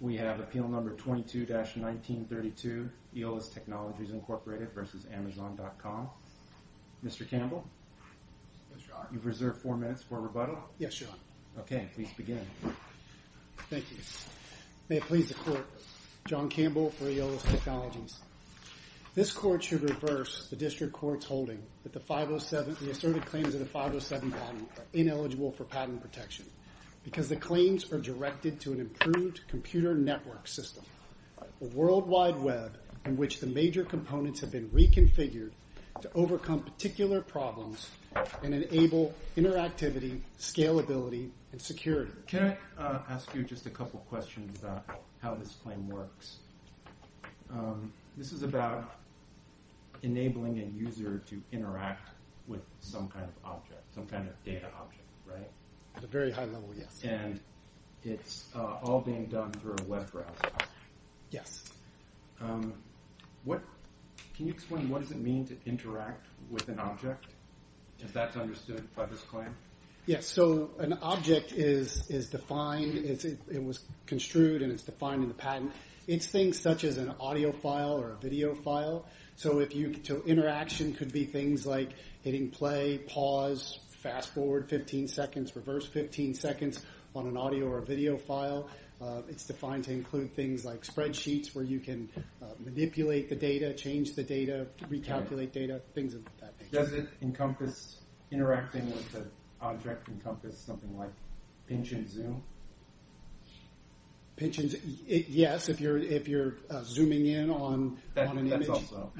We have Appeal Number 22-1932, Eolas Technologies Incorporated v. Amazon.com. Mr. Campbell? You've reserved four minutes for rebuttal. Yes, Your Honor. Okay, please begin. Thank you. May it please the Court, John Campbell for Eolas Technologies. This Court should reverse the District Court's holding that the asserted claims of the 507 patent are ineligible for patent protection because the claims are directed to an improved computer network system, a World Wide Web in which the major components have been reconfigured to overcome particular problems and enable interactivity, scalability, and security. Can I ask you just a couple questions about how this claim works? This is about enabling a user to interact with some kind of object, some kind of data object, right? At a very high level, yes. And it's all being done through a web browser. Yes. Can you explain what does it mean to interact with an object, if that's understood by this claim? Yes. So an object is defined, it was construed and it's defined in the patent. It's things such as an audio file or a video file. So interaction could be things like hitting play, pause, fast forward 15 seconds, reverse 15 seconds on an audio or a video file. It's defined to include things like spreadsheets where you can manipulate the data, change the data, recalculate data, things of that nature. Does it encompass interacting with an object encompass something like pinch and zoom? Pinch and zoom, yes, if you're zooming in on an image. That's also.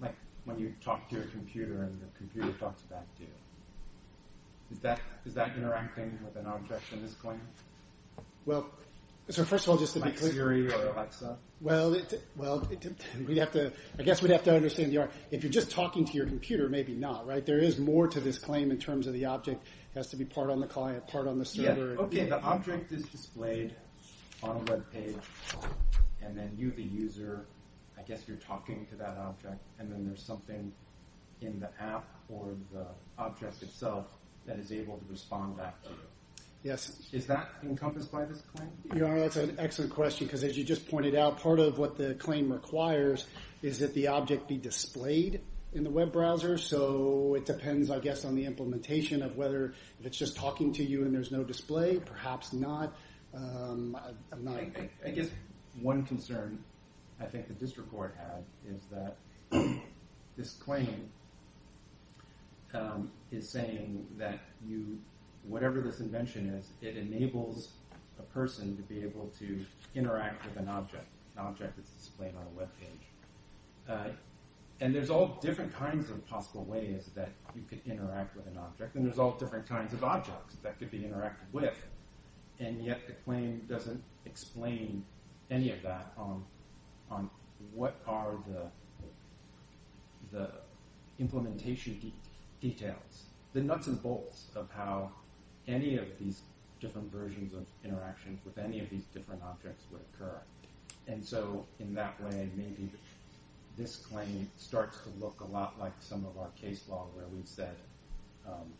Like when you talk to a computer and the computer talks back to you. Is that interacting with an object in this claim? Well, so first of all, just to be clear. Like Siri or Alexa? Well, I guess we'd have to understand the art. If you're just talking to your computer, maybe not, right? There is more to this claim in terms of the object has to be part on the client, part on the server. OK, the object is displayed on a web page and then you, the user, I guess you're talking to that object and then there's something in the app or the object itself that is able to respond back to you. Yes. Is that encompassed by this claim? Your Honor, that's an excellent question, because as you just pointed out, part of what the claim requires is that the object be displayed in the web browser. So it depends, I guess, on the implementation of whether it's just talking to you and there's no display, perhaps not. I guess one concern I think the district court had is that this claim is saying that you, whatever this invention is, it enables a person to be able to interact with an object, an object that's displayed on a web page. And there's all different kinds of possible ways that you can interact with an object and there's all different kinds of objects that could be interacted with. And yet the claim doesn't explain any of that on what are the implementation details, the nuts and bolts of how any of these different versions of interactions with any of these different objects would occur. And so in that way, maybe this claim starts to look a lot like some of our case law where we said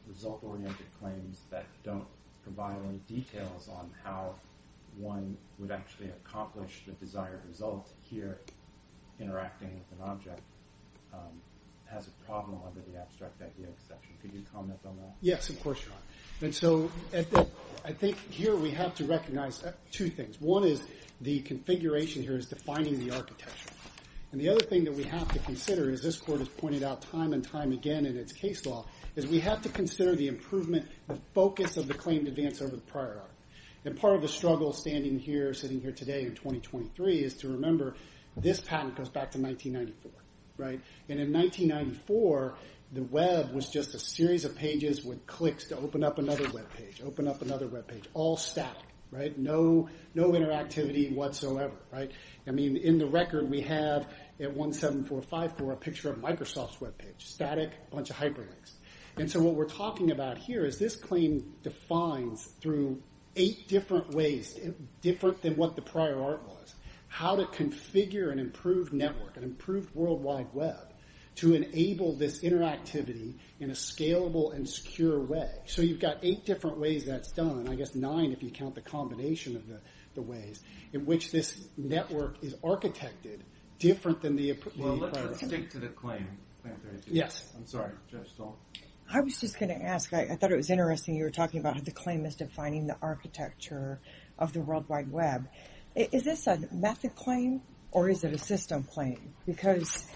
result-oriented claims that don't provide any details on how one would actually accomplish the desired result. Here, interacting with an object has a problem under the abstract idea section. Could you comment on that? Yes, of course, Your Honor. And so I think here we have to recognize two things. One is the configuration here is defining the architecture. And the other thing that we have to consider is this court has pointed out time and time again in its case law is we have to consider the improvement, the focus of the claim to advance over the prior argument. And part of the struggle standing here, sitting here today in 2023 is to remember this patent goes back to 1994, right? And in 1994, the web was just a series of pages with clicks to open up another web page, open up another web page, all static, right? No interactivity whatsoever, right? In the record, we have at 17454 a picture of Microsoft's web page, static, a bunch of hyperlinks. And so what we're talking about here is this claim defines through eight different ways, different than what the prior art was, how to configure an improved network, an improved World Wide Web to enable this interactivity in a scalable and secure way. So you've got eight different ways that's done, I guess nine if you count the combination of the ways in which this network is architected different than the prior. Well, let's stick to the claim. Yes. I'm sorry, Judge Stoltz. I was just going to ask, I thought it was interesting you were talking about how the claim is defining the architecture of the World Wide Web. Is this a method claim or is it a system claim? Because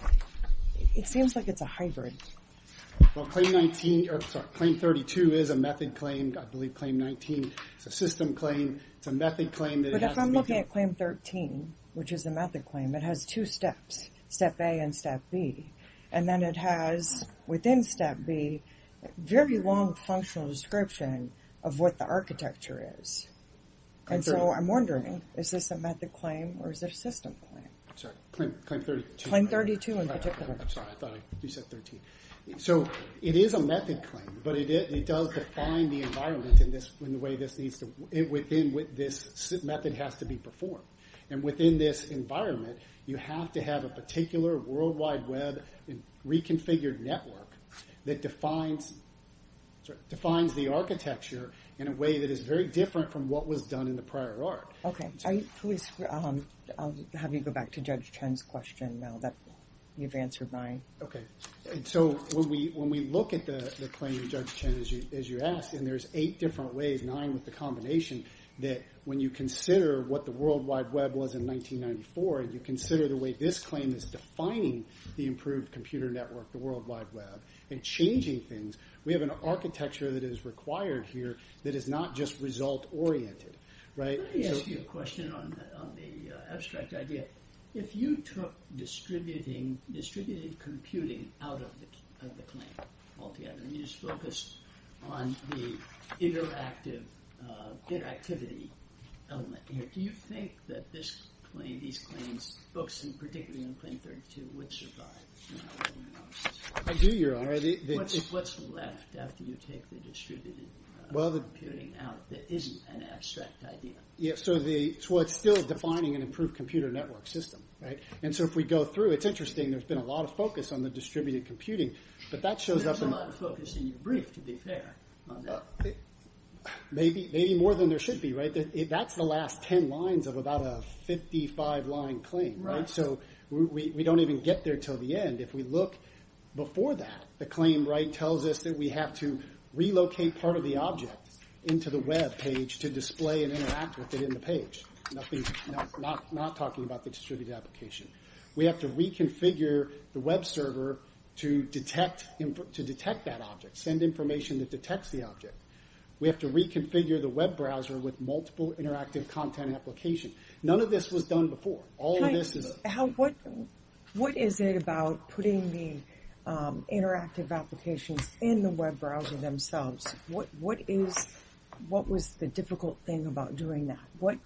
it seems like it's a hybrid. Well, claim 19, or sorry, claim 32 is a method claim. I believe claim 19 is a system claim. It's a method claim. But if I'm looking at claim 13, which is a method claim, it has two steps, step A and step B. And then it has, within step B, a very long functional description of what the architecture is. And so I'm wondering, is this a method claim or is it a system claim? Sorry, claim 32. Claim 32 in particular. I'm sorry, I thought you said 13. So it is a method claim, but it does define the environment in the way this needs to, within what this method has to be performed. And within this environment, you have to have a particular World Wide Web reconfigured network that defines the architecture in a way that is very different from what was done in the prior art. OK. I'll have you go back to Judge Chen's question now that you've answered mine. OK. So when we look at the claim of Judge Chen, as you asked, and there's eight different ways, nine with the combination, that when you consider what the World Wide Web was in 1994, and you consider the way this claim is defining the improved computer network, the World Wide Web, and changing things, we have an architecture that is required here that is not just result-oriented, right? Let me ask you a question on the abstract idea. If you took distributed computing out of the claim altogether, and you just focused on the interactive, interactivity element here, do you think that this claim, these claims, books, and particularly in Claim 32, would survive? I do, Your Honor. What's left after you take the distributed computing out that isn't an abstract idea? Yes, so it's still defining an improved computer network system, right? And so if we go through, it's interesting, there's been a lot of focus on the distributed computing, but that shows up in- Maybe more than there should be, right? That's the last 10 lines of about a 55-line claim, right? So we don't even get there till the end. If we look before that, the claim tells us that we have to relocate part of the object into the web page to display and interact with it in the page, not talking about the distributed application. We have to reconfigure the web server to detect that object, send information that detects the object. We have to reconfigure the web browser with multiple interactive content applications. None of this was done before. All of this is- What is it about putting the interactive applications in the web browser themselves? What was the difficult thing about doing that?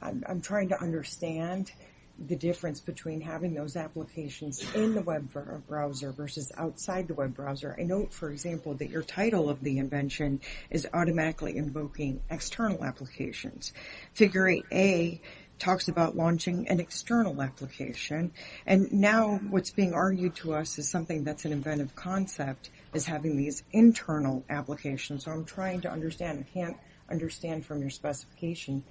I'm trying to understand the difference between having those applications in the web browser versus outside the web browser. I know, for example, that your title of the invention is automatically invoking external applications. Figure 8a talks about launching an external application, and now what's being argued to us is something that's an inventive concept is having these internal applications. So I'm trying to understand. I can't understand from your specification,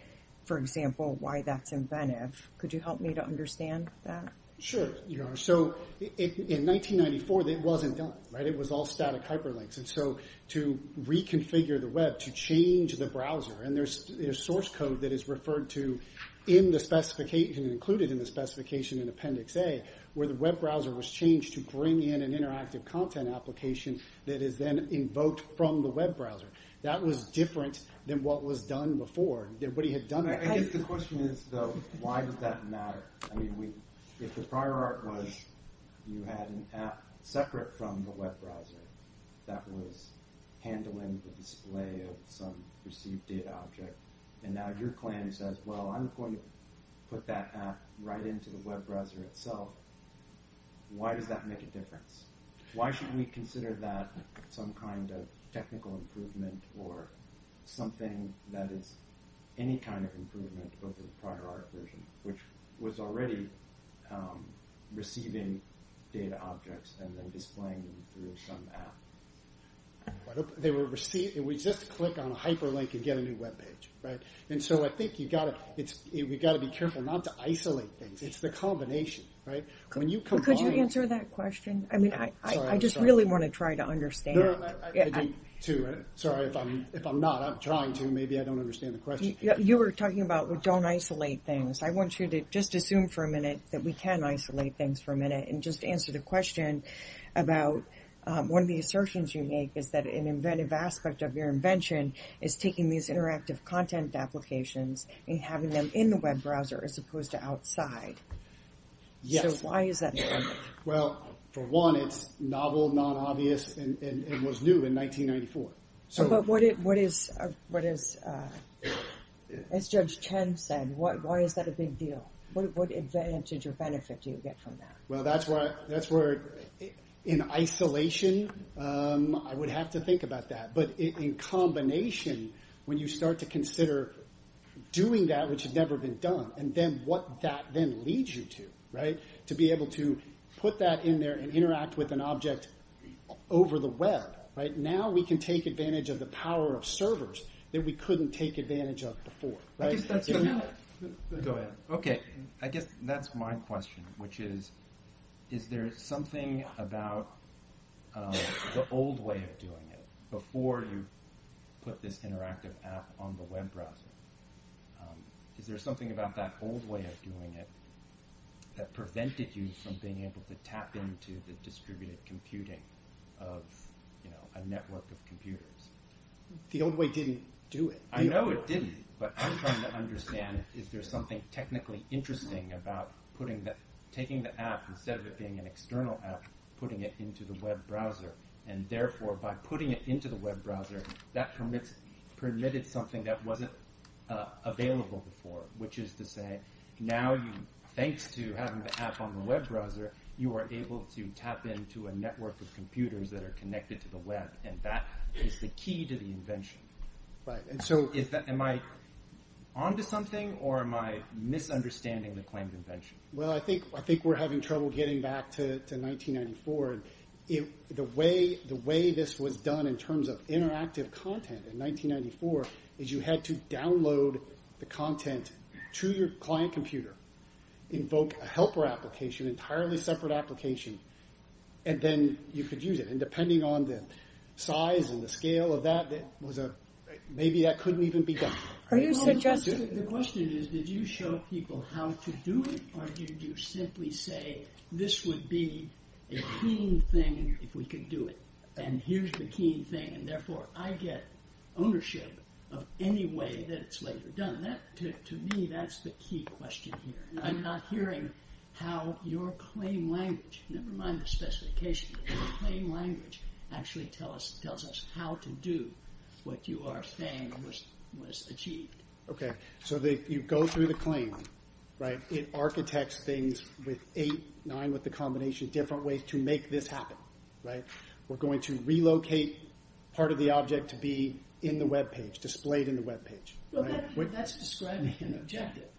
for example, why that's inventive. Could you help me to understand that? Sure, you are. So in 1994, it wasn't done, right? It was all static hyperlinks. And so to reconfigure the web, to change the browser, and there's source code that is referred to in the specification, included in the specification in Appendix A, where the web browser was changed to bring in an interactive content application that is then invoked from the web browser. That was different than what was done before, than what he had done before. I guess the question is, though, why does that matter? I mean, if the prior art was you had an app separate from the web browser that was handling the display of some perceived data object, and now your plan says, well, I'm going to put that app right into the web browser itself, why does that make a difference? Why should we consider that some kind of technical improvement or something that is any kind of improvement over the prior art version, which was already receiving data objects and then displaying them through some app? We just click on a hyperlink and get a new web page, right? And so I think we've got to be careful not to isolate things. It's the combination, right? Could you answer that question? I mean, I just really want to try to understand. Sorry, if I'm not, I'm trying to. Maybe I don't understand the question. You were talking about we don't isolate things. I want you to just assume for a minute that we can isolate things for a minute and just answer the question about one of the assertions you make is that an inventive aspect of your invention is taking these interactive content applications and having them in the web browser as opposed to outside. Yes. So why is that? Well, for one, it's novel, non-obvious, and it was new in 1994. But what is, as Judge Chen said, why is that a big deal? What advantage or benefit do you get from that? Well, that's where in isolation, I would have to think about that. But in combination, when you start to consider doing that, which has never been done, and then what that then leads you to, right? To be able to put that in there and interact with an object over the web, right? We can take advantage of the power of servers that we couldn't take advantage of before. Go ahead. Okay. I guess that's my question, which is, is there something about the old way of doing it before you put this interactive app on the web browser? Is there something about that old way of doing it that prevented you from being able to tap into the distributed computing of a network of computers? The old way didn't do it. I know it didn't. But I'm trying to understand, is there something technically interesting about taking the app, instead of it being an external app, putting it into the web browser? And therefore, by putting it into the web browser, that permitted something that wasn't available before, which is to say, now, thanks to having the app on the web browser, you are able to tap into a network of computers that are connected to the web. And that is the key to the invention. And so, am I onto something? Or am I misunderstanding the claims invention? Well, I think we're having trouble getting back to 1994. The way this was done in terms of interactive content in 1994, is you had to download the separate application, and then you could use it. And depending on the size and the scale of that, maybe that couldn't even be done. Are you suggesting... The question is, did you show people how to do it? Or did you simply say, this would be a keen thing if we could do it? And here's the keen thing. And therefore, I get ownership of any way that it's later done. To me, that's the key question here. I'm not hearing how your claim language, never mind the specification, but your claim language actually tells us how to do what you are saying was achieved. Okay. So, you go through the claim, right? It architects things with eight, nine, with the combination of different ways to make this happen. Right? We're going to relocate part of the object to be in the web page, displayed in the web page. Well, that's describing an objective.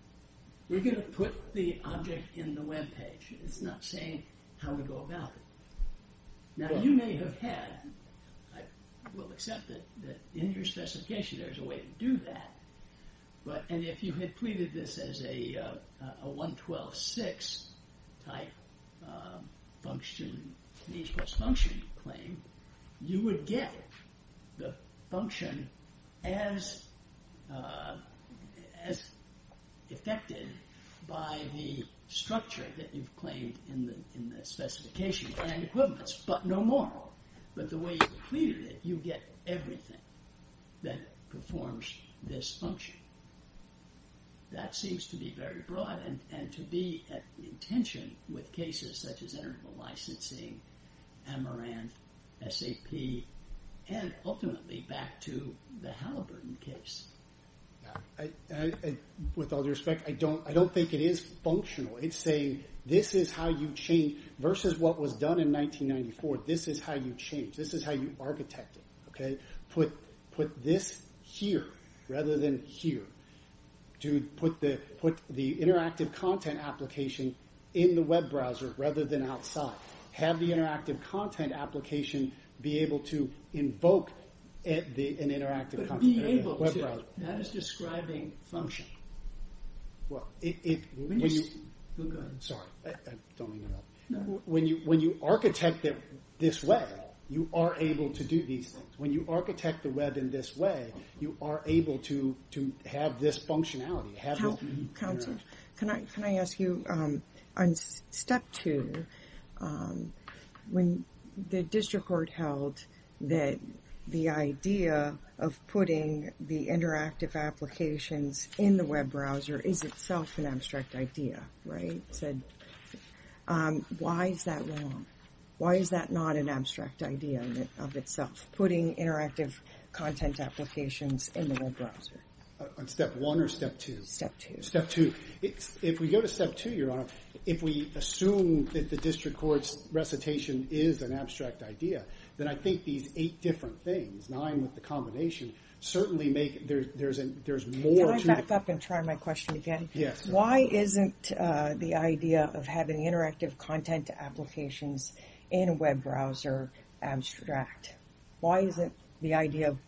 We're going to put the object in the web page. It's not saying how to go about it. Now, you may have had... I will accept that in your specification, there's a way to do that. But, and if you had pleaded this as a 112.6 type function, means plus function claim, you would get the function as affected by the structure that you've claimed in the specification, planned equivalence, but no more. But the way you pleaded it, you get everything that performs this function. That seems to be very broad. And to be at intention with cases such as interval licensing, Amaranth, SAP, and ultimately back to the Halliburton case. With all due respect, I don't think it is functional. It's saying, this is how you change versus what was done in 1994. This is how you change. This is how you architect it. Okay. Put this here, rather than here. Dude, put the interactive content application in the web browser, rather than outside. Have the interactive content application be able to invoke an interactive... But be able to. That is describing function. Well, it... Sorry, I don't even know. When you architect it this way, you are able to do these things. When you architect the web in this way, you are able to have this functionality. Counselor, can I ask you, on step two, when the district court held that the idea of putting the interactive applications in the web browser is itself an abstract idea, right? Said, why is that wrong? Why is that not an abstract idea of itself? Putting interactive content applications in the web browser. On step one or step two? Step two. Step two. If we go to step two, Your Honor, if we assume that the district court's recitation is an abstract idea, then I think these eight different things, nine with the combination, certainly make... There's more to... Can I back up and try my question again? Yes. Why isn't the idea of having interactive content applications in a web browser abstract? Why isn't the idea of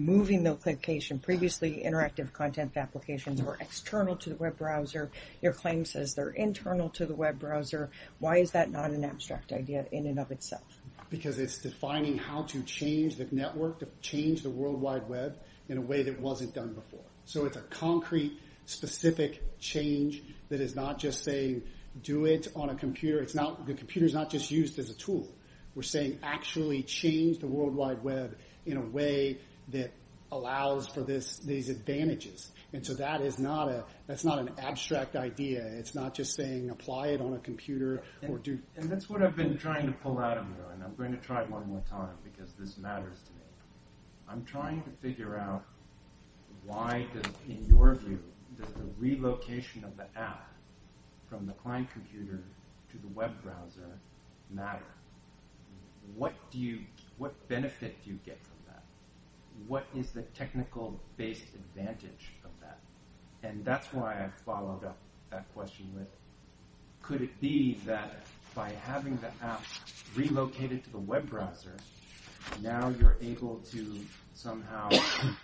moving the application, previously interactive content applications were external to the web browser. Your claim says they're internal to the web browser. Why is that not an abstract idea in and of itself? Because it's defining how to change the network, to change the World Wide Web in a way that wasn't done before. So it's a concrete, specific change that is not just saying, do it on a computer. The computer's not just used as a tool. We're saying, actually change the World Wide Web in a way that allows for these advantages. And so that is not an abstract idea. It's not just saying, apply it on a computer or do... And that's what I've been trying to pull out of you, and I'm going to try it one more time because this matters to me. I'm trying to figure out why, in your view, does the relocation of the app from the client computer to the web browser matter? What do you... What benefit do you get from that? What is the technical-based advantage of that? And that's why I followed up that question with, could it be that by having the app relocated to the web browser, now you're able to somehow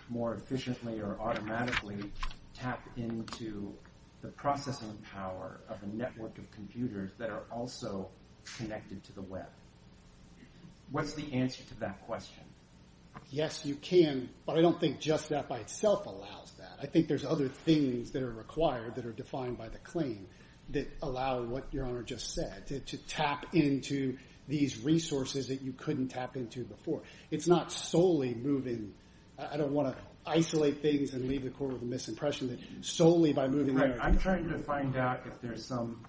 more efficiently or automatically tap into the processing power of a network of computers that are also connected to the web? What's the answer to that question? Yes, you can. But I don't think just that by itself allows that. I think there's other things that are required, that are defined by the claim, that allow what Your Honor just said, to tap into these resources that you couldn't tap into before. It's not solely moving... I don't want to isolate things and leave the court with a misimpression that solely I'm trying to find out if there's some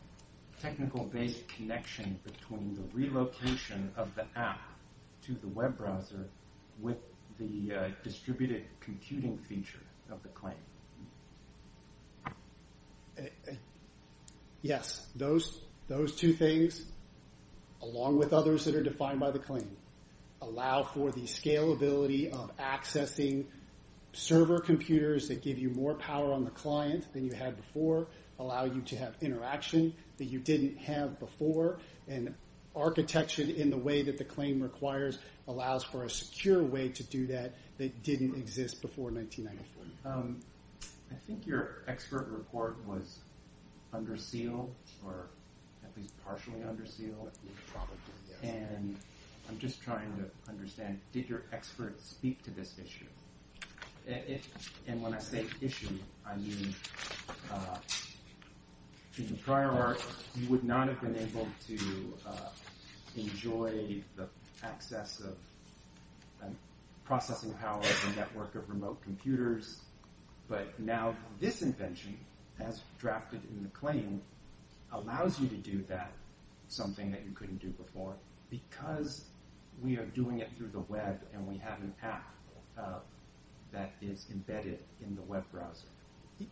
technical-based connection between the relocation of the app to the web browser with the distributed computing feature of the claim. Yes, those two things, along with others that are defined by the claim, allow for the scalability of accessing server computers that give you more power on the client than you had before, allow you to have interaction that you didn't have before. And architecture in the way that the claim requires allows for a secure way to do that that didn't exist before 1994. I think your expert report was under seal, or at least partially under seal. And I'm just trying to understand, did your expert speak to this issue? And when I say issue, I mean, in the prior arc, you would not have been able to enjoy the access of processing power of a network of remote computers. But now this invention, as drafted in the claim, allows you to do that, something that you couldn't do before, because we are doing it through the web and we have an app that is embedded in the web browser.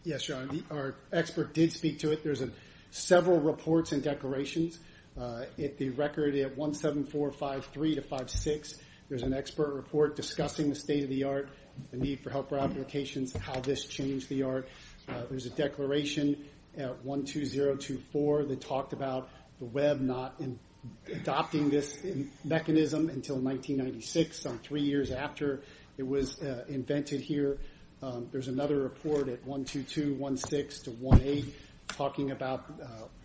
Yes, John, our expert did speak to it. There's several reports and declarations. If the record at 17453 to 56, there's an expert report discussing the state of the art, the need for helper applications, how this changed the art. There's a declaration at 12024 that talked about the web not adopting this mechanism until 1996, so three years after it was invented here. There's another report at 12216 to 18, talking about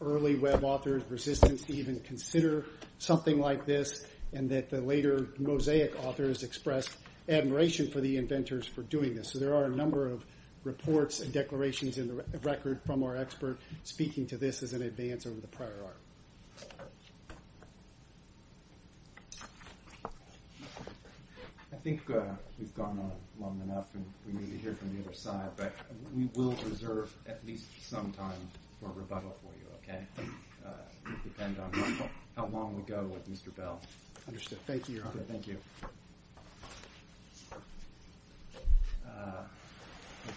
early web authors' resistance to even consider something like this, and that the later Mosaic authors expressed admiration for the inventors for doing this. So there are a number of reports and declarations in the record from our expert speaking to this as an advance over the prior arc. I think we've gone on long enough and we need to hear from the other side, but we will reserve at least some time for rebuttal for you, okay? It will depend on how long we go with Mr. Bell. Understood. Thank you, Your Honor. Thank you.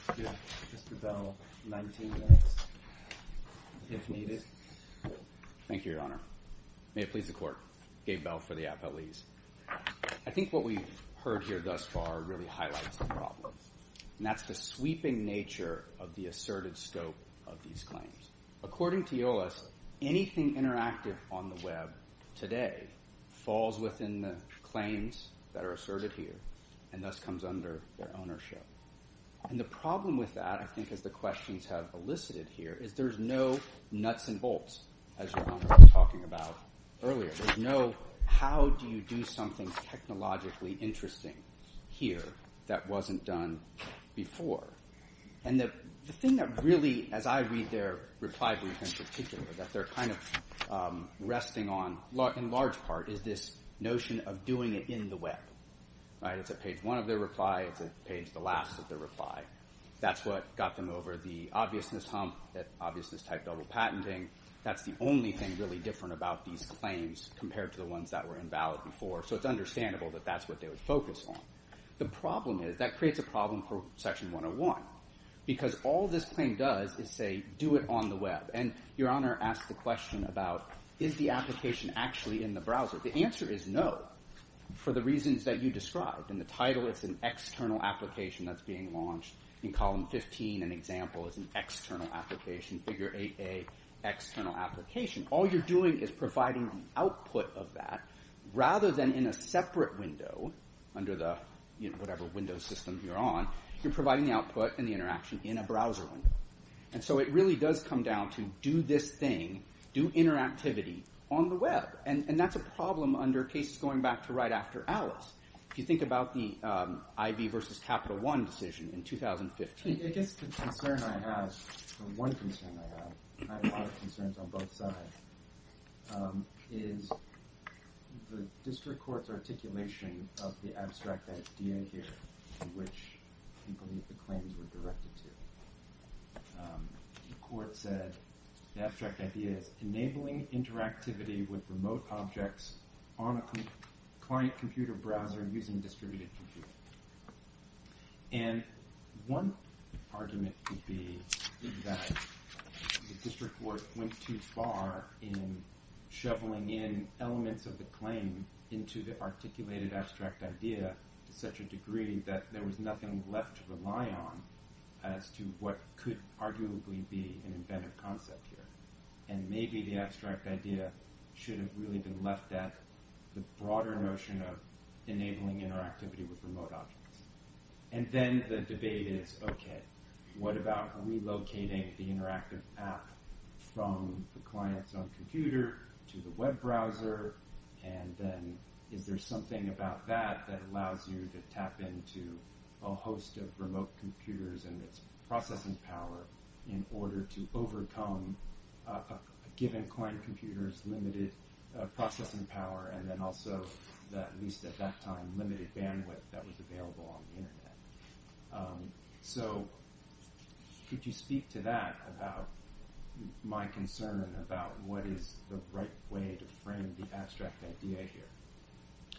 Let's give Mr. Bell 19 minutes, if needed. Thank you, Your Honor. May it please the Court. Gabe Bell for the appellees. I think what we've heard here thus far really highlights the problem, and that's the sweeping nature of the asserted scope of these claims. According to Iolas, anything interactive on the web today falls within the claims that this comes under their ownership. And the problem with that, I think as the questions have elicited here, is there's no nuts and bolts, as Your Honor was talking about earlier. There's no, how do you do something technologically interesting here that wasn't done before? And the thing that really, as I read their reply brief in particular, that they're kind of resting on, in large part, is this notion of doing it in the web, right? Their reply, it's a page, the last of their reply, that's what got them over the obviousness hump, that obviousness type double patenting. That's the only thing really different about these claims compared to the ones that were invalid before. So it's understandable that that's what they would focus on. The problem is, that creates a problem for Section 101, because all this claim does is say, do it on the web. And Your Honor asked the question about, is the application actually in the browser? The answer is no, for the reasons that you described. In the title, it's an external application that's being launched. In column 15, an example is an external application, figure 8A, external application. All you're doing is providing the output of that, rather than in a separate window, under the, you know, whatever window system you're on, you're providing the output and the interaction in a browser window. And so it really does come down to, do this thing, do interactivity on the web. And that's a problem under cases going back to right after Alice. If you think about the IB versus Capital One decision in 2015. I guess the concern I have, or one concern I have, I have a lot of concerns on both sides, is the district court's articulation of the abstract idea here, which I believe the claims were directed to. The court said, the abstract idea is enabling interactivity with remote objects on a client computer browser using distributed computing. And one argument could be that the district court went too far in shoveling in elements of the claim into the articulated abstract idea to such a degree that there was nothing left to rely on as to what could arguably be an inventive concept here. And maybe the abstract idea should have really been left at the broader notion of enabling interactivity with remote objects. And then the debate is, okay, what about relocating the interactive app from the client's own computer to the web browser? And then is there something about that that allows you to tap into a host of remote computers and its processing power in order to overcome a given client computer's limited processing power? And then also, at least at that time, limited bandwidth that was available on the internet. So could you speak to that about my concern about what is the right way to frame the abstract idea here?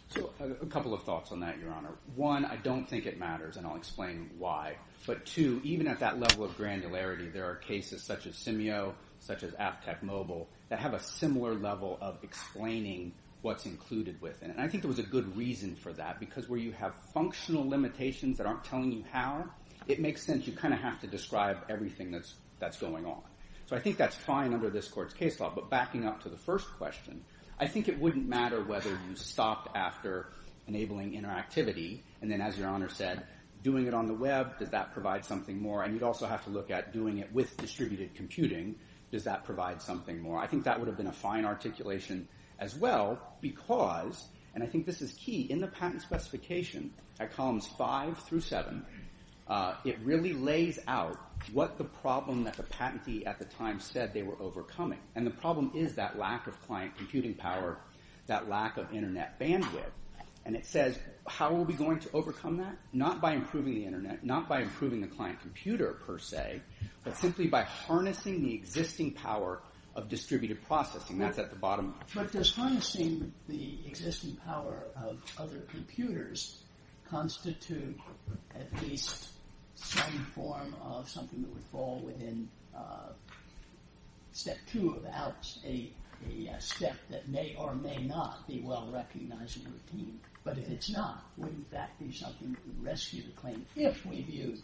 So a couple of thoughts on that, Your Honor. One, I don't think it matters, and I'll explain why. But two, even at that level of granularity, there are cases such as Simio, such as AppTech Mobile, that have a similar level of explaining what's included within it. And I think there was a good reason for that. Because where you have functional limitations that aren't telling you how, it makes sense you kind of have to describe everything that's going on. So I think that's fine under this court's case law. But backing up to the first question, I think it wouldn't matter whether you stopped after enabling interactivity. And then, as Your Honor said, doing it on the web, does that provide something more? And you'd also have to look at doing it with distributed computing. Does that provide something more? I think that would have been a fine articulation as well. Because, and I think this is key, in the patent specification, at columns five through seven, it really lays out what the problem that the patentee at the time said they were overcoming. And the problem is that lack of client computing power, that lack of internet bandwidth. And it says, how are we going to overcome that? Not by improving the internet. Not by improving the client computer, per se. But simply by harnessing the existing power of distributed processing. That's at the bottom. But does harnessing the existing power of other computers constitute at least some form of something that would fall within step two of ALPS, a step that may or may not be well recognized and retained. But if it's not, wouldn't that be something that would rescue the claim, if we view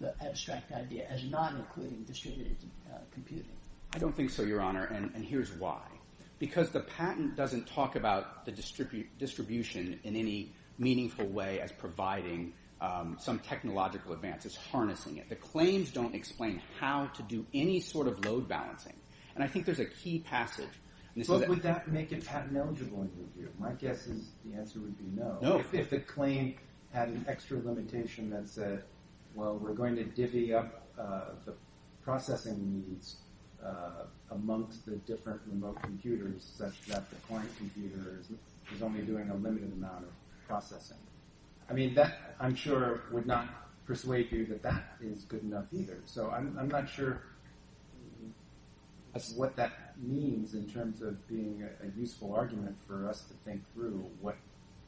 the abstract idea as not including distributed computing? I don't think so, Your Honor. And here's why. Because the patent doesn't talk about the distribution in any meaningful way as providing some technological advances, harnessing it. The claims don't explain how to do any sort of load balancing. And I think there's a key passage. Would that make it patent eligible in your view? My guess is the answer would be no. If the claim had an extra limitation that said, well, we're going to divvy up the processing needs amongst the different remote computers such that the client computer is only doing a limited amount of processing. I mean, that, I'm sure, would not persuade you that that is good enough either. So I'm not sure what that means in terms of being a useful argument for us to think through what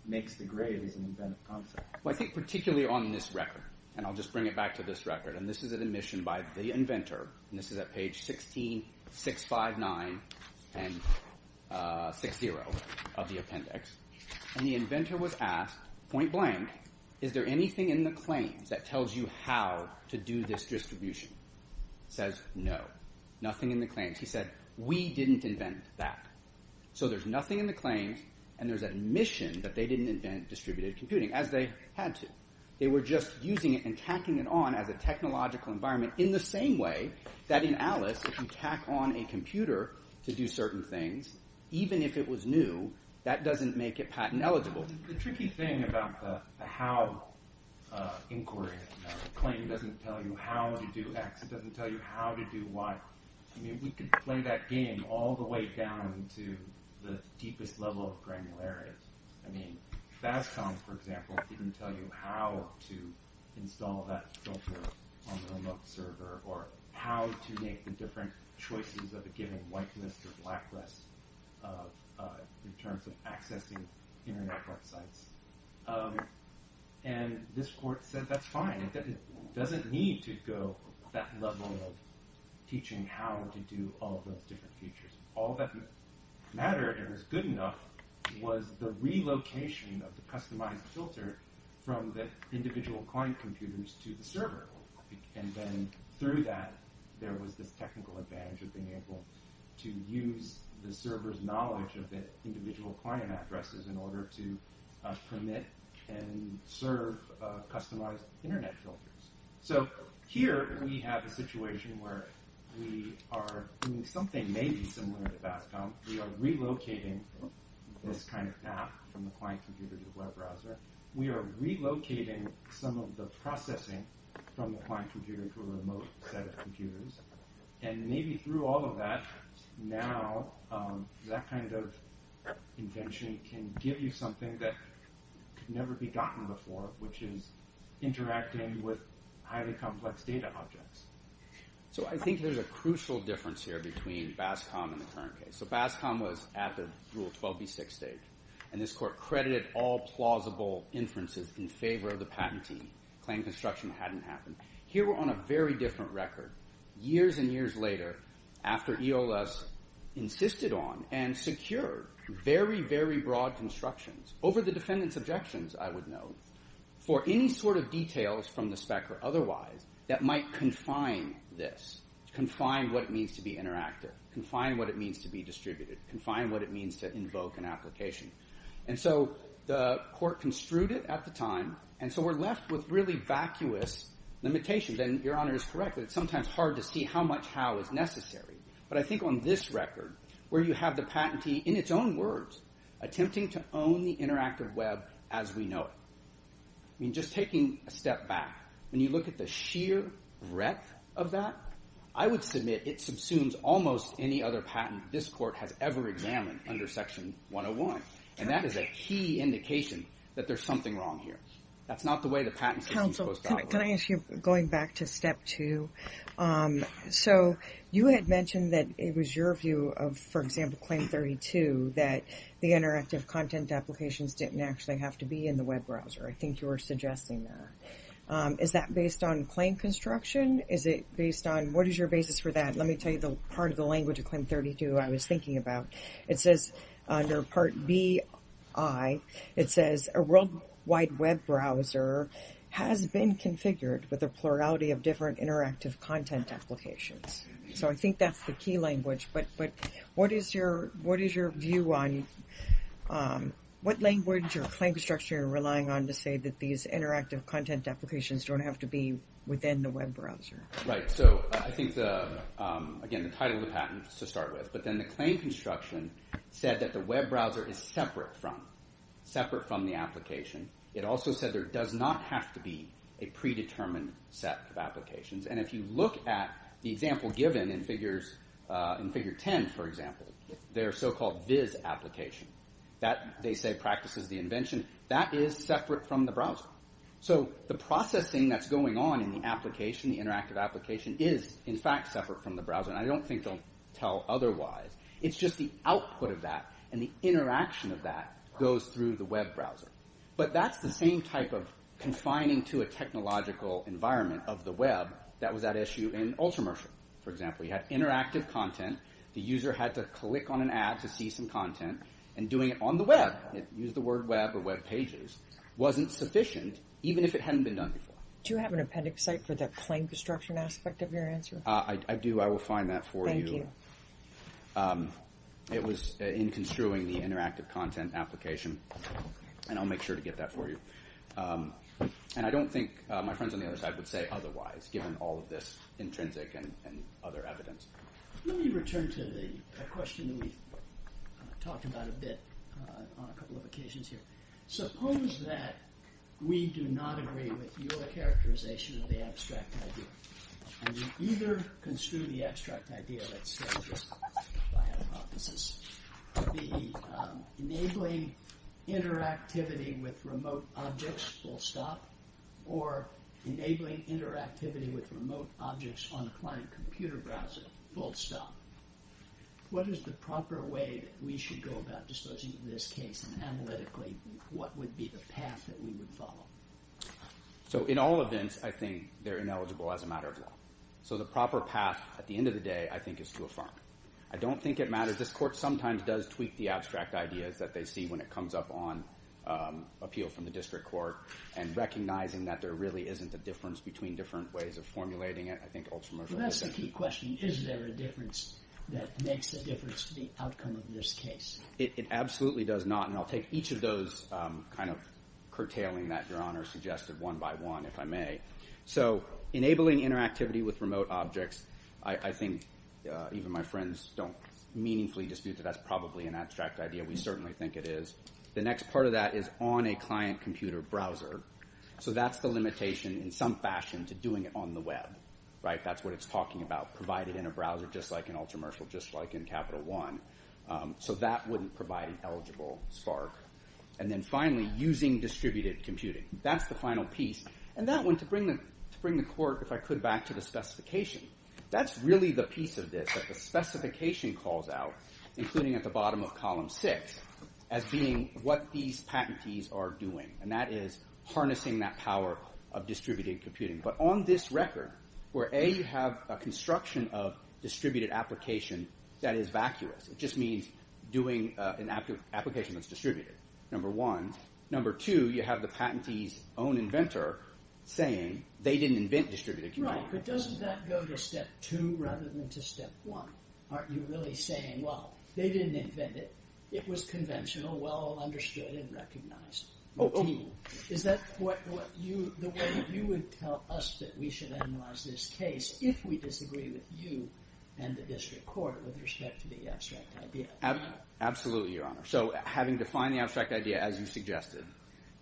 makes the grave as an inventive concept. Well, I think particularly on this record, and I'll just bring it back to this record. And this is an admission by the inventor. And this is at page 16, 659 and 60 of the appendix. And the inventor was asked, point blank, is there anything in the claims that tells you how to do this distribution? He says, no, nothing in the claims. He said, we didn't invent that. So there's nothing in the claims. And there's admission that they didn't invent distributed computing as they had to. They were just using it and tacking it on as a technological environment in the same way that in Alice, if you tack on a computer to do certain things, even if it was new, that doesn't make it patent eligible. The tricky thing about the how inquiry, the claim doesn't tell you how to do x. It doesn't tell you how to do y. I mean, we could play that game all the way down to the deepest level of granularity. I mean, Bascom, for example, didn't tell you how to install that filter on the remote server or how to make the different choices of the given whiteness or blackness in terms of accessing internet websites. And this court said, that's fine. It doesn't need to go that level of teaching how to do all those different features. All that mattered and was good enough was the relocation of the customized filter from the individual client computers to the server. And then through that, there was this technical advantage of being able to use the server's individual client addresses in order to permit and serve customized internet filters. So here we have a situation where we are doing something maybe similar to Bascom. We are relocating this kind of app from the client computer to the web browser. We are relocating some of the processing from the client computer to a remote set of computers. And maybe through all of that, now that kind of invention can give you something that could never be gotten before, which is interacting with highly complex data objects. So I think there's a crucial difference here between Bascom and the current case. So Bascom was at the Rule 12b6 stage. And this court credited all plausible inferences in favor of the patent team. Claim construction hadn't happened. Here we're on a very different record. Years and years later, after EOS insisted on and secured very, very broad constructions over the defendant's objections, I would note, for any sort of details from the spec or otherwise that might confine this, confine what it means to be interactive, confine what it means to be distributed, confine what it means to invoke an application. And so the court construed it at the time. And so we're left with really vacuous limitations. And Your Honor is correct. It's sometimes hard to see how much how is necessary. But I think on this record, where you have the patentee, in its own words, attempting to own the interactive web as we know it. I mean, just taking a step back, when you look at the sheer breadth of that, I would submit it subsumes almost any other patent this court has ever examined under Section 101. And that is a key indication that there's something wrong here. That's not the way the patent system's supposed to operate. Can I ask you, going back to step two, so you had mentioned that it was your view of, for example, Claim 32, that the interactive content applications didn't actually have to be in the web browser. I think you were suggesting that. Is that based on claim construction? Is it based on what is your basis for that? Let me tell you the part of the language of Claim 32 I was thinking about. It says under Part B.I., it says a worldwide web browser has been configured with a plurality of different interactive content applications. So I think that's the key language. But what is your view on what language or claim structure you're relying on to say that these interactive content applications don't have to be within the web browser? Right. So I think, again, the title of the patent is to start with. But then the claim construction said that the web browser is separate from the application. It also said there does not have to be a predetermined set of applications. And if you look at the example given in Figure 10, for example, their so-called VIZ application, they say practices the invention. That is separate from the browser. So the processing that's going on in the application, the interactive application, is in fact separate from the browser. And I don't think they'll tell otherwise. It's just the output of that and the interaction of that goes through the web browser. But that's the same type of confining to a technological environment of the web that was at issue in Ultramersh. For example, you had interactive content. The user had to click on an ad to see some content. And doing it on the web, use the word web or web pages, wasn't sufficient, even if it hadn't been done before. Do you have an appendix site for the claim construction aspect of your answer? I do. I will find that for you. It was in construing the interactive content application. And I'll make sure to get that for you. And I don't think my friends on the other side would say otherwise, given all of this intrinsic and other evidence. Let me return to the question that we've talked about a bit on a couple of occasions here. Suppose that we do not agree with your characterization of the abstract idea. And we either construe the abstract idea, let's say, just by hypothesis, to be enabling interactivity with remote objects full stop, or enabling interactivity with remote objects on a client computer browser. Full stop. What is the proper way we should go about disposing of this case? And analytically, what would be the path that we would follow? So in all events, I think they're ineligible as a matter of law. So the proper path at the end of the day, I think, is to affirm. I don't think it matters. This court sometimes does tweak the abstract ideas that they see when it comes up on appeal from the district court. And recognizing that there really isn't a difference between different ways of formulating it, I think, ultramarginally. That's a key question. Is there a difference that makes a difference to the outcome of this case? It absolutely does not. And I'll take each of those kind of curtailing that Your Honor suggested one by one, if I may. So enabling interactivity with remote objects, I think even my friends don't meaningfully dispute that that's probably an abstract idea. We certainly think it is. The next part of that is on a client computer browser. So that's the limitation in some fashion to doing it on the web, right? Provided in a browser, just like an ultramarginal, just like in Capital One. So that wouldn't provide an eligible spark. And then finally, using distributed computing. That's the final piece. And that one, to bring the court, if I could, back to the specification. That's really the piece of this that the specification calls out, including at the bottom of column six, as being what these patentees are doing. And that is harnessing that power of distributed computing. But on this record, where A, you have a construction of distributed application that is vacuous. It just means doing an application that's distributed, number one. Number two, you have the patentee's own inventor saying they didn't invent distributed computing. Right, but doesn't that go to step two rather than to step one? Aren't you really saying, well, they didn't invent it. It was conventional, well understood and recognized. Oh, is that what you, the way you would tell us that we should analyze this case, if we disagree with you and the district court with respect to the abstract idea? Absolutely, Your Honor. So having defined the abstract idea as you suggested,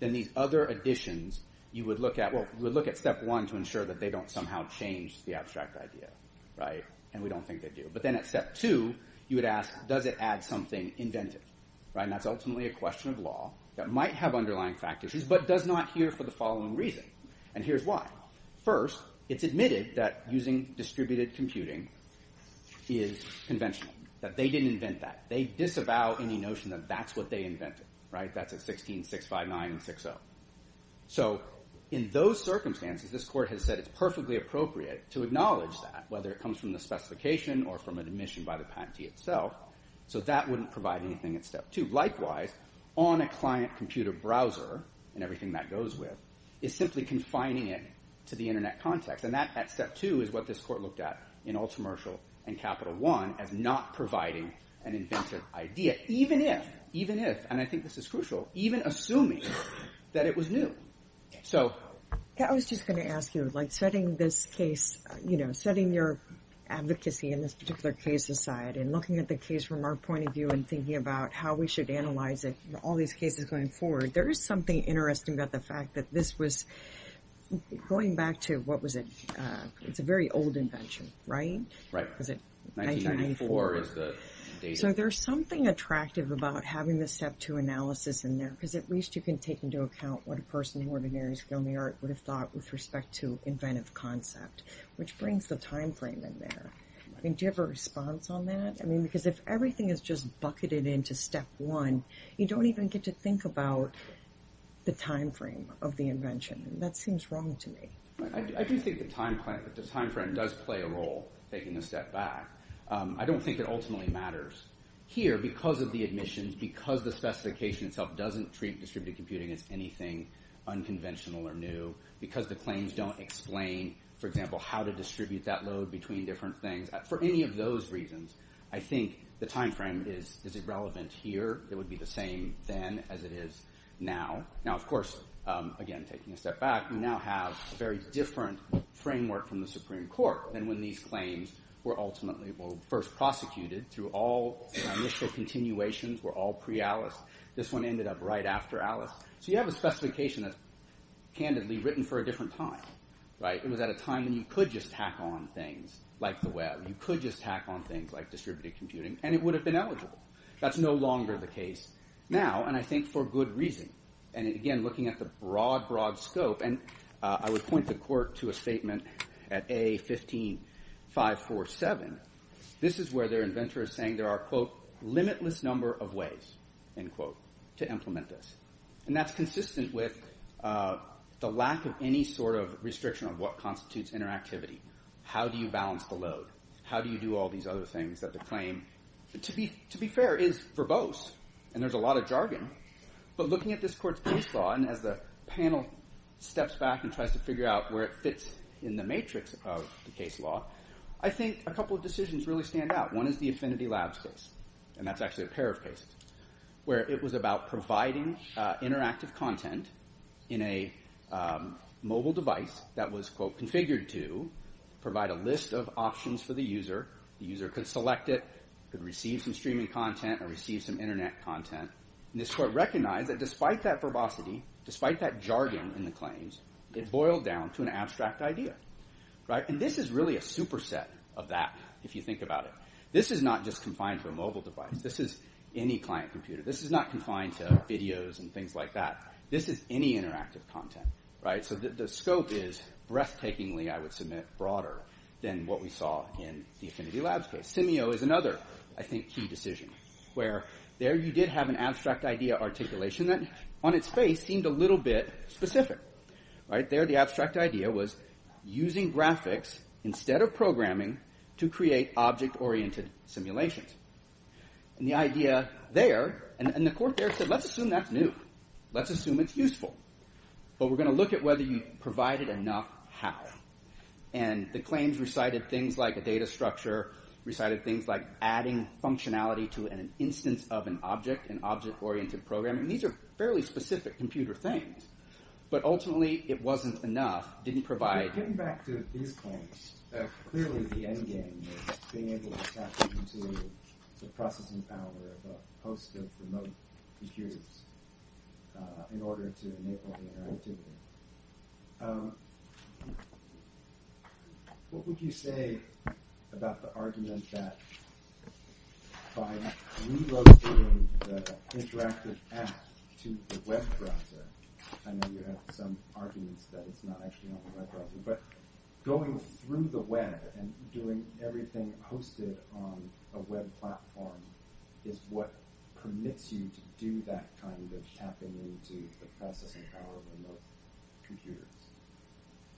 then these other additions, you would look at, well, we would look at step one to ensure that they don't somehow change the abstract idea. Right. And we don't think they do. But then at step two, you would ask, does it add something inventive? Right. That's ultimately a question of law that might have underlying factors, but does not here for the following reason. And here's why. First, it's admitted that using distributed computing is conventional, that they didn't invent that. They disavow any notion that that's what they invented. Right. That's a 1665960. So in those circumstances, this court has said it's perfectly appropriate to acknowledge that, whether it comes from the specification or from an admission by the patentee itself. So that wouldn't provide anything at step two. Likewise, on a client computer browser and everything that goes with is simply confining it to the internet context. And that at step two is what this court looked at in Ultramershal and Capital One as not providing an inventive idea, even if, even if, and I think this is crucial, even assuming that it was new. So I was just going to ask you, like setting this case, you know, setting your advocacy in this particular case aside and looking at the case from our point of view and thinking about how we should analyze it, all these cases going forward. There is something interesting about the fact that this was, going back to what was it? It's a very old invention, right? Right. Was it? 1984 is the date. So there's something attractive about having the step two analysis in there, because at least you can take into account what a person in ordinary skill in the art would have thought with respect to inventive concept, which brings the timeframe in there. I mean, do you have a response on that? I mean, because if everything is just bucketed into step one, you don't even get to think about the timeframe of the invention. That seems wrong to me. I do think the timeframe does play a role taking a step back. I don't think it ultimately matters here because of the admissions, because the specification itself doesn't treat distributed computing as anything unconventional or new, because the claims don't explain, for example, how to distribute that load between different things. For any of those reasons, I think the timeframe is irrelevant here. It would be the same then as it is now. Now, of course, again, taking a step back, we now have a very different framework from the Supreme Court than when these claims were ultimately first prosecuted through all initial continuations were all pre-ALICE. This one ended up right after ALICE. So you have a specification that's candidly written for a different time, right? It was at a time when you could just tack on things like the web. You could just tack on things like distributed computing, and it would have been eligible. That's no longer the case now, and I think for good reason. And again, looking at the broad, broad scope, and I would point the court to a statement at A15547. This is where their inventor is saying there are, quote, limitless number of ways, end quote, to implement this. And that's consistent with the lack of any sort of restriction on what constitutes interactivity. How do you balance the load? How do you do all these other things that the claim, to be fair, is verbose? And there's a lot of jargon, but looking at this court's case law, and as the panel steps back and tries to figure out where it fits in the matrix of the case law, I think a couple of decisions really stand out. One is the Affinity Labs case, and that's actually a pair of cases, where it was about providing interactive content in a mobile device that was, quote, configured to provide a list of options for the user. The user could select it, could receive some streaming content, or receive some internet content. And this court recognized that despite that verbosity, despite that jargon in the claims, it boiled down to an abstract idea, right? And this is really a superset of that, if you think about it. This is not just confined to a mobile device. This is any client computer. This is not confined to videos and things like that. This is any interactive content, right? So the scope is breathtakingly, I would submit, broader than what we saw in the Affinity Labs case. Simio is another, I think, key decision, where there you did have an abstract idea articulation that on its face seemed a little bit specific, right? There the abstract idea was using graphics instead of programming to create object-oriented simulations. And the idea there, and the court there said, let's assume that's new. Let's assume it's useful. But we're going to look at whether you provided enough how. And the claims recited things like a data structure, recited things like adding functionality to an instance of an object, an object-oriented programming. These are fairly specific computer things. But ultimately, it wasn't enough. It didn't provide... ...in order to enable the interactivity. What would you say about the argument that by relocating the interactive app to the web browser, I know you have some arguments that it's not actually on the web browser, but going through the web and doing everything hosted on a web platform is what permits you to do that kind of tapping into the processing power of remote computers.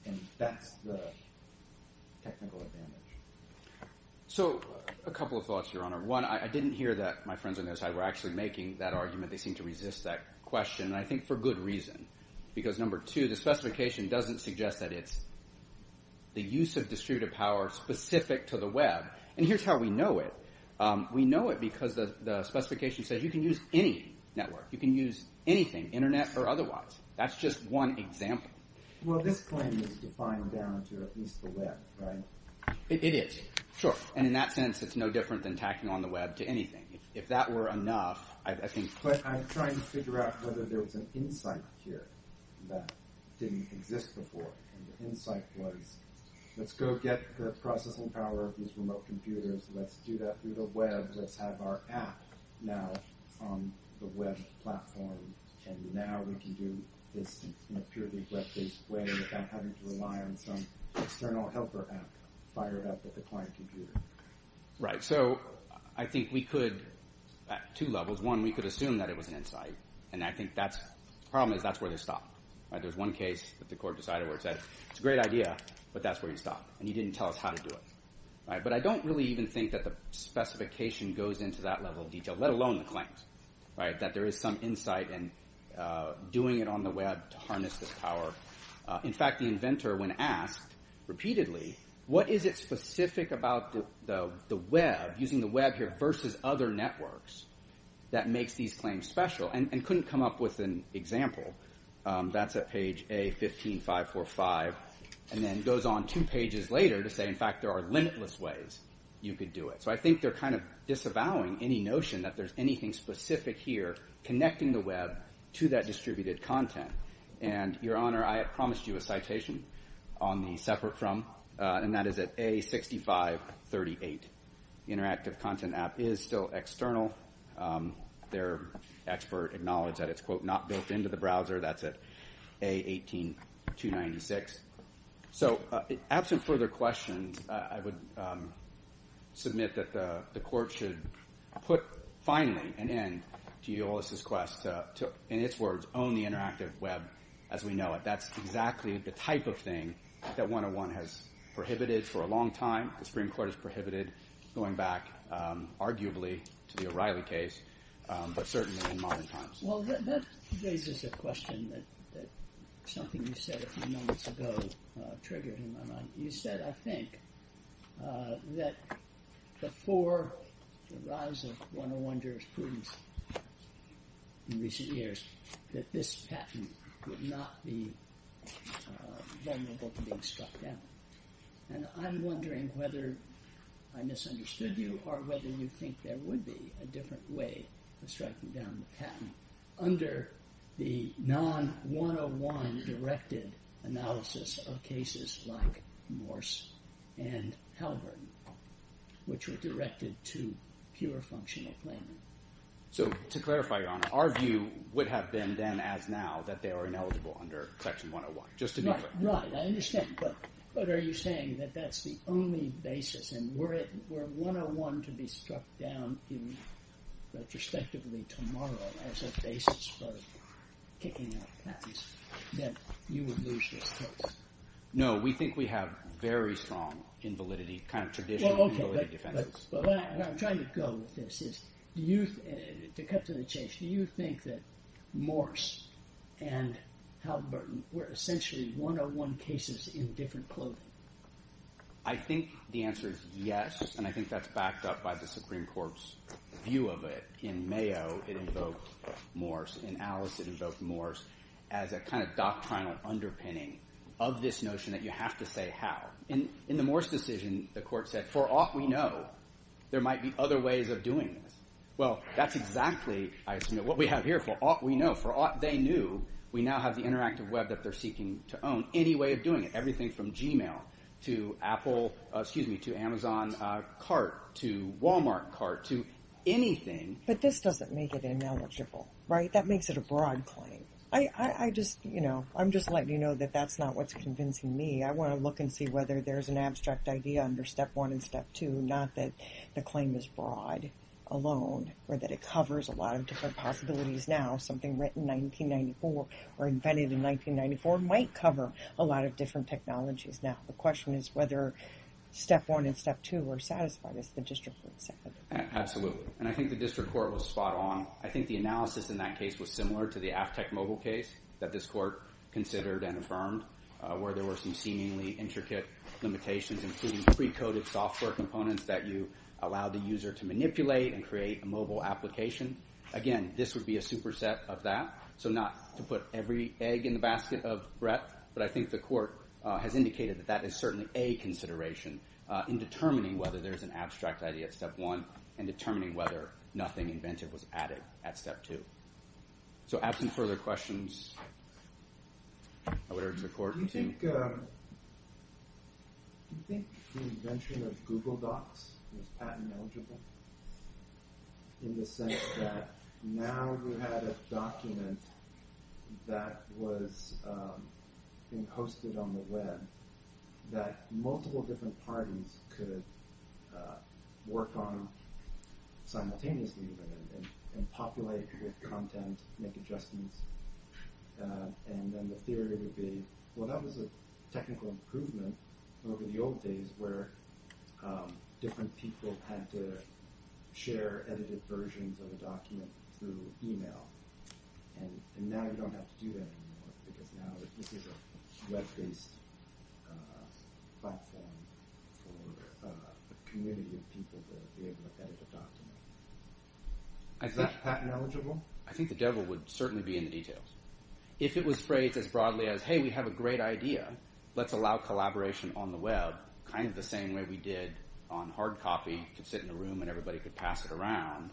And that's the technical advantage. So a couple of thoughts, Your Honor. One, I didn't hear that my friends on the other side were actually making that argument. They seem to resist that question. And I think for good reason. Because number two, the specification doesn't suggest that it's the use of distributive power specific to the web. And here's how we know it. We know it because the specification says you can use any network. You can use anything, internet or otherwise. That's just one example. Well, this claim is defined down to at least the web, right? It is, sure. And in that sense, it's no different than tacking on the web to anything. If that were enough, I think... But I'm trying to figure out whether there's an insight here that didn't exist before. And the insight was, let's go get the processing power of these remote computers. Let's do that through the web. Let's have our app now on the web platform. And now we can do this in a purely web-based way without having to rely on some external helper app fired up at the client computer. Right. So I think we could at two levels. One, we could assume that it was an insight. And I think that's... The problem is that's where they stop. There's one case that the court decided where it said, it's a great idea, but that's where you stop. And he didn't tell us how to do it. But I don't really even think that the specification goes into that level of detail, let alone the claims. Right. That there is some insight in doing it on the web to harness this power. In fact, the inventor, when asked repeatedly, what is it specific about the web, using the web here versus other networks that makes these claims special? And couldn't come up with an example. That's at page A15545. And then goes on two pages later to say, in fact, there are limitless ways you could do it. So I think they're kind of disavowing any notion that there's anything specific here connecting the web to that distributed content. And Your Honor, I have promised you a citation on the separate from, and that is at A6538. Interactive content app is still external. Their expert acknowledged that it's quote, not built into the browser. That's at A18296. So absent further questions, I would submit that the court should put, finally, an end to Eolas' quest to, in its words, own the interactive web as we know it. That's exactly the type of thing that 101 has prohibited for a long time. The Supreme Court has prohibited going back, arguably, to the O'Reilly case, but certainly in modern times. Well, that raises a question that something you said a few moments ago triggered in my mind. You said, I think, that before the rise of 101 jurisprudence in recent years, that this patent would not be vulnerable to being struck down. And I'm wondering whether I misunderstood you or whether you think there would be a different way of striking down the patent under the non-101 directed analysis of cases like Morse and Halburton, which were directed to pure functional claiming. So to clarify, Your Honor, our view would have been then as now that they are ineligible under Section 101, just to be clear. Right, I understand. But are you saying that that's the only basis and were 101 to be struck down retrospectively tomorrow as a basis for kicking out patents, then you would lose this case? No, we think we have very strong invalidity, kind of traditional invalidity defenses. But what I'm trying to go with this is, do you, to cut to the chase, do you think that Morse and Halburton were essentially 101 cases in different clothing? I think the answer is yes, and I think that's backed up by the Supreme Court's view of it. In Mayo, it invoked Morse. In Alice, it invoked Morse as a kind of doctrinal underpinning of this notion that you have to say how. In the Morse decision, the court said, for aught we know, there might be other ways of doing this. Well, that's exactly, I assume, what we have here. For aught we know, for aught they knew, we now have the interactive web that they're seeking to own. Any way of doing it, everything from Gmail to Apple, excuse me, to Amazon cart to Walmart cart to anything. But this doesn't make it ineligible, right? That makes it a broad claim. I'm just letting you know that that's not what's convincing me. I want to look and see whether there's an abstract idea under step one and step two, not that the claim is broad alone or that it covers a lot of different possibilities now. Something written in 1994 or invented in 1994 might cover a lot of different technologies now. The question is whether step one and step two are satisfied as the district court said. Absolutely. And I think the district court was spot on. I think the analysis in that case was similar to the Aftek mobile case that this court considered and affirmed, where there were some seemingly intricate limitations, including pre-coded software components that you allow the user to manipulate and create a mobile application. Again, this would be a superset of that. So not to put every egg in the basket of breath, but I think the court has indicated that that is certainly a consideration in determining whether there's an abstract idea at step one and determining whether nothing invented was added at step two. So absent further questions, I would urge the court to... Do you think the invention of Google Docs is patent eligible in the sense that now we had a document that was being hosted on the web that multiple different parties could work on simultaneously and populate with content, make adjustments. And then the theory would be, well, that was a technical improvement over the old days where different people had to share edited versions of the document through email. And now you don't have to do that anymore because now this is a web-based platform for a community of people to be able to edit the document. Is that patent eligible? I think the devil would certainly be in the details. If it was phrased as broadly as, hey, we have a great idea. Let's allow collaboration on the web kind of the same way we did on hard copy to sit in a room and everybody could pass it around.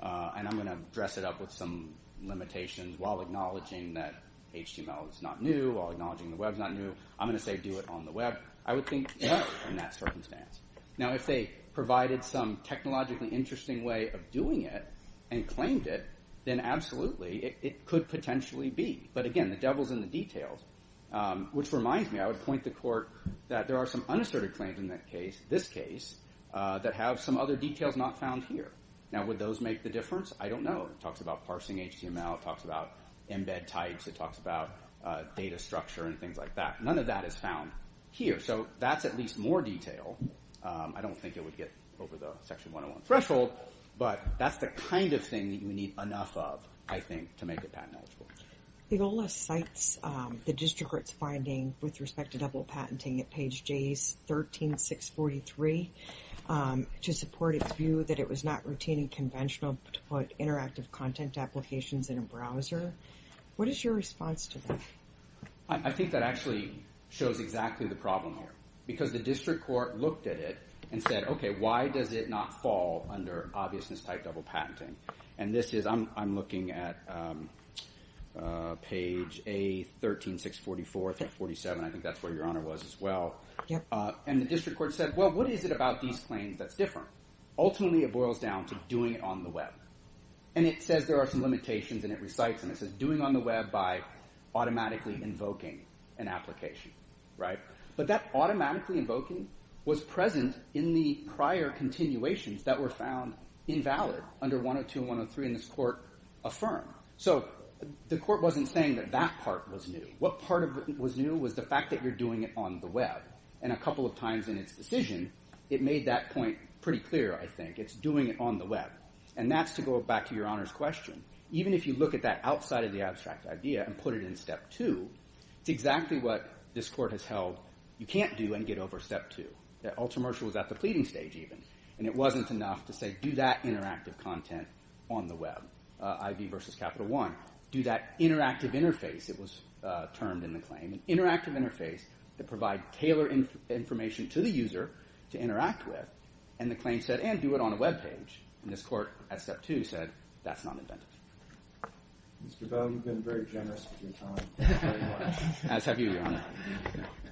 And I'm gonna dress it up with some limitations while acknowledging that HTML is not new or acknowledging the web is not new. I'm gonna say do it on the web. I would think in that circumstance. Now, if they provided some technologically interesting way of doing it and claimed it, then absolutely it could potentially be. But again, the devil's in the details, which reminds me, I would point the court that there are some unasserted claims in that case, this case, that have some other details not found here. Now, would those make the difference? I don't know. It talks about parsing HTML. It talks about embed types. It talks about data structure and things like that. None of that is found here. So that's at least more detail. I don't think it would get over the section 101 threshold, but that's the kind of thing that you need enough of, I think, to make it patent eligible. The OLA cites the district court's finding with respect to double patenting at page J13643 to support its view that it was not routine and conventional to put interactive content applications in a browser. What is your response to that? I think that actually shows exactly the problem here, because the district court looked at it and said, OK, why does it not fall under obviousness type double patenting? And this is, I'm looking at page A13644 through 47. I think that's where your honor was as well. And the district court said, well, what is it about these claims that's different? Ultimately, it boils down to doing it on the web. And it says there are some limitations and it recites and it says doing on the web by automatically invoking an application, right? But that automatically invoking was present in the prior continuations that were found invalid under 102 and 103 in this court affirm. So the court wasn't saying that that part was new. What part of it was new was the fact that you're doing it on the web. And a couple of times in its decision, it made that point pretty clear, I think. It's doing it on the web. And that's to go back to your honor's question. Even if you look at that side of the abstract idea and put it in step two, it's exactly what this court has held. You can't do and get over step two. Ultramercial was at the pleading stage even. And it wasn't enough to say, do that interactive content on the web, IV versus Capital One. Do that interactive interface. It was termed in the claim an interactive interface that provide tailored information to the user to interact with. And the claim said, and do it on a web page. And this court at step two said, that's not inventive. Mr. Bell, you've been very generous with your time. As have you, your honor.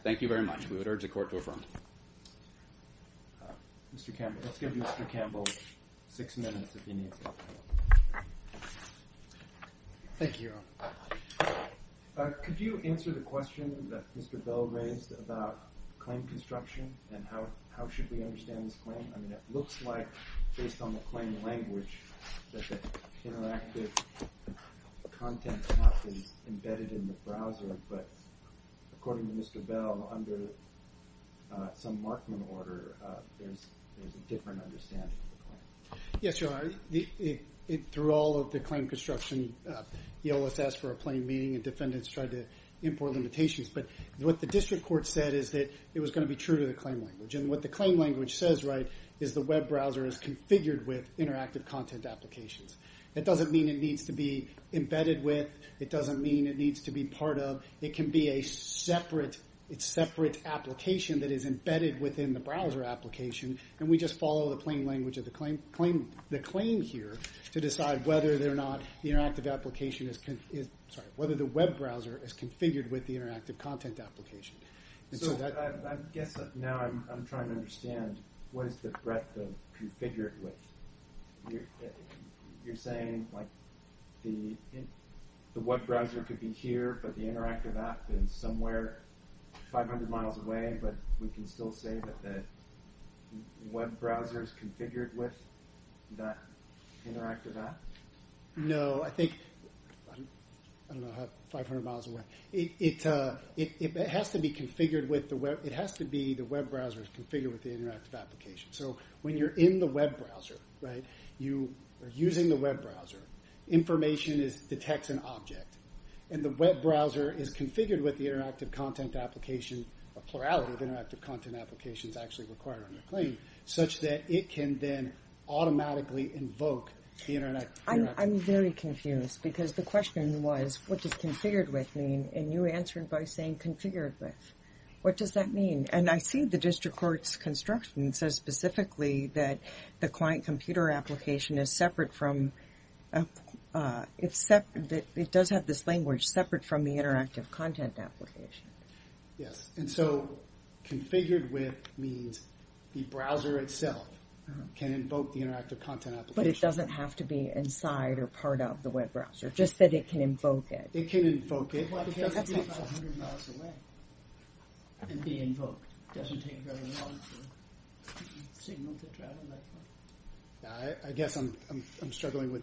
Thank you very much. We would urge the court to affirm. Mr. Campbell, let's give Mr. Campbell six minutes. Thank you. Could you answer the question that Mr. Bell raised about claim construction and how should we understand this claim? I mean, it looks like based on the claim language that the interactive content cannot be embedded in the browser. But according to Mr. Bell, under some Markman order, there's a different understanding. Yes, your honor. Through all of the claim construction, the OSS for a plain meaning and defendants tried to import limitations. But what the district court said is that it was going to be true to the claim language. And what the claim language says, right, is the web browser is configured with interactive content applications. That doesn't mean it needs to be embedded with. It doesn't mean it needs to be part of. It can be a separate, it's separate application that is embedded within the browser application. And we just follow the plain language of the claim here to decide whether they're not the interactive application is, sorry, whether the web browser is configured with the interactive content application. So I guess now I'm trying to understand what is the threat configured with? You're saying like the the web browser could be here, but the interactive app is somewhere 500 miles away. But we can still say that the web browser is configured with that interactive app. No, I think I don't know how 500 miles away it has to be configured with the web. It has to be the web browser is configured with the interactive application. So when you're in the web browser, right, you are using the web browser. Information is detects an object and the web browser is configured with the interactive content application, a plurality of interactive content applications actually required on the claim such that it can then automatically invoke the internet. I'm very confused because the question was, what does configured with mean? And you answered by saying configured with. What does that mean? And I see the district court's construction says specifically that the client computer application is separate from except that it does have this language separate from the interactive content application. Yes, and so configured with means the browser itself can invoke the interactive content, but it doesn't have to be inside or part of the web browser, just that it can invoke it. It can invoke it. And be invoked doesn't go wrong. I guess I'm I'm struggling with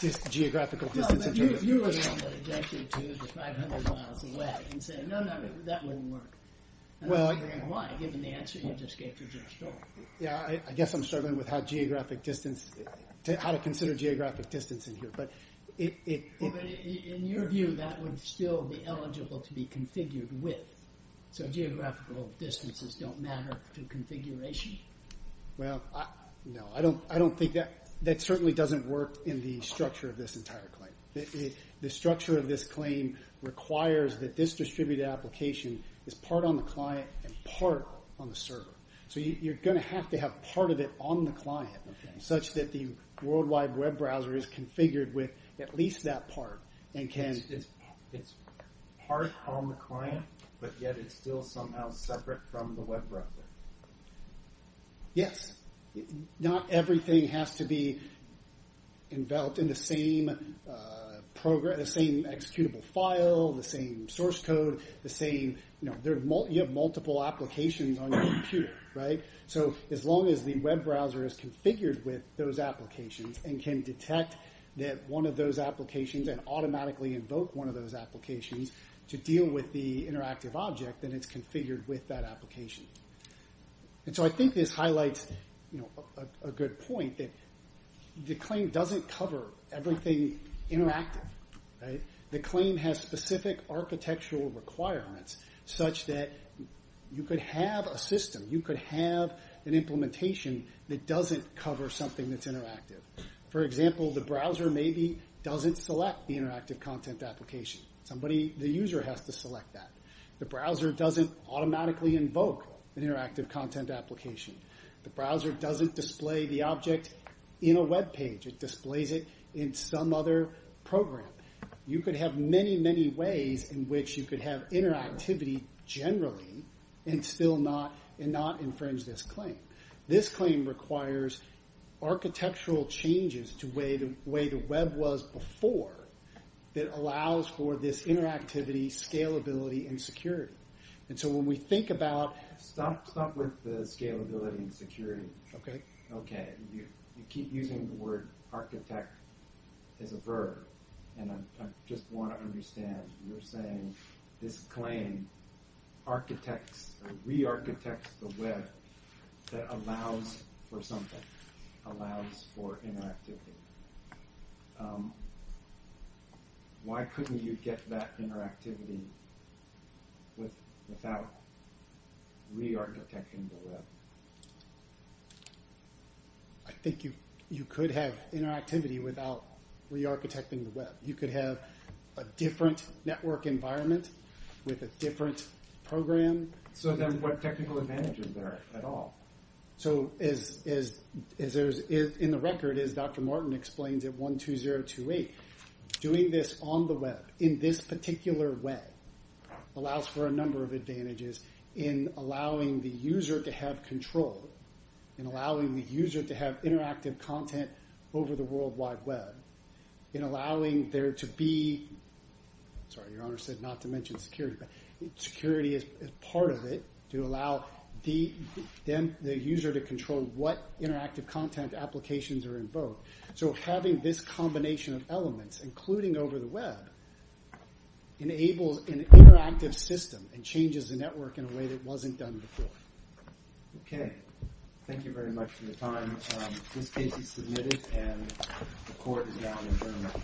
this geographical distance. If you were to 500 miles away and say, no, no, no, that wouldn't work. Well, why? Given the answer you just gave to your story. Yeah, I guess I'm struggling with how geographic distance how to consider geographic distance in here. But in your view, that would still be eligible to be configured with so geographical distances don't matter to configuration. Well, no, I don't. I don't think that that certainly doesn't work in the structure of this entire claim. The structure of this claim requires that this distributed application is part on the client and part on the server. So you're going to have to have part of it on the client such that the worldwide web browser is configured with at least that part and can. It's part on the client, but yet it's still somehow separate from the web browser. Yes, not everything has to be enveloped in the same program, the same executable file, the same source code, the same you have multiple applications on your computer, right? So as long as the web browser is configured with those applications and can detect that one of those applications and automatically invoke one of those applications to deal with the interactive object, then it's configured with that application. So I think this highlights a good point that the claim doesn't cover everything interactive. The claim has specific architectural requirements such that you could have a system, you could have an implementation that doesn't cover something that's interactive. For example, the browser maybe doesn't select the interactive content application. The user has to select that. The browser doesn't automatically invoke an interactive content application. The browser doesn't display the object in a web page. It displays it in some other program. You could have many, many ways in which you could have interactivity generally and still not infringe this claim. This claim requires architectural changes to the way the web was before that allows for this interactivity, scalability, and security. And so when we think about... Stop with the scalability and security. OK. OK. You keep using the word architect as a verb. And I just want to understand, you're saying this claim architects, re-architects the web that allows for something, allows for interactivity. Why couldn't you get that interactivity without re-architecting the web? I think you could have interactivity without re-architecting the web. You could have a different network environment with a different program. So then what technical advantages are there at all? So as in the record, as Dr. Martin explains at 12028, doing this on the web in this particular web allows for a number of advantages in allowing the user to have control, in allowing the user to have interactive content over the worldwide web, in allowing there to be... Sorry, your honor said not to mention security, but security is part of it to allow the user to control what interactive content applications are in both. So having this combination of elements, including over the web, enables an interactive system and changes the network in a way that wasn't done before. Okay. Thank you very much for your time. This case is submitted and the court is now adjourned.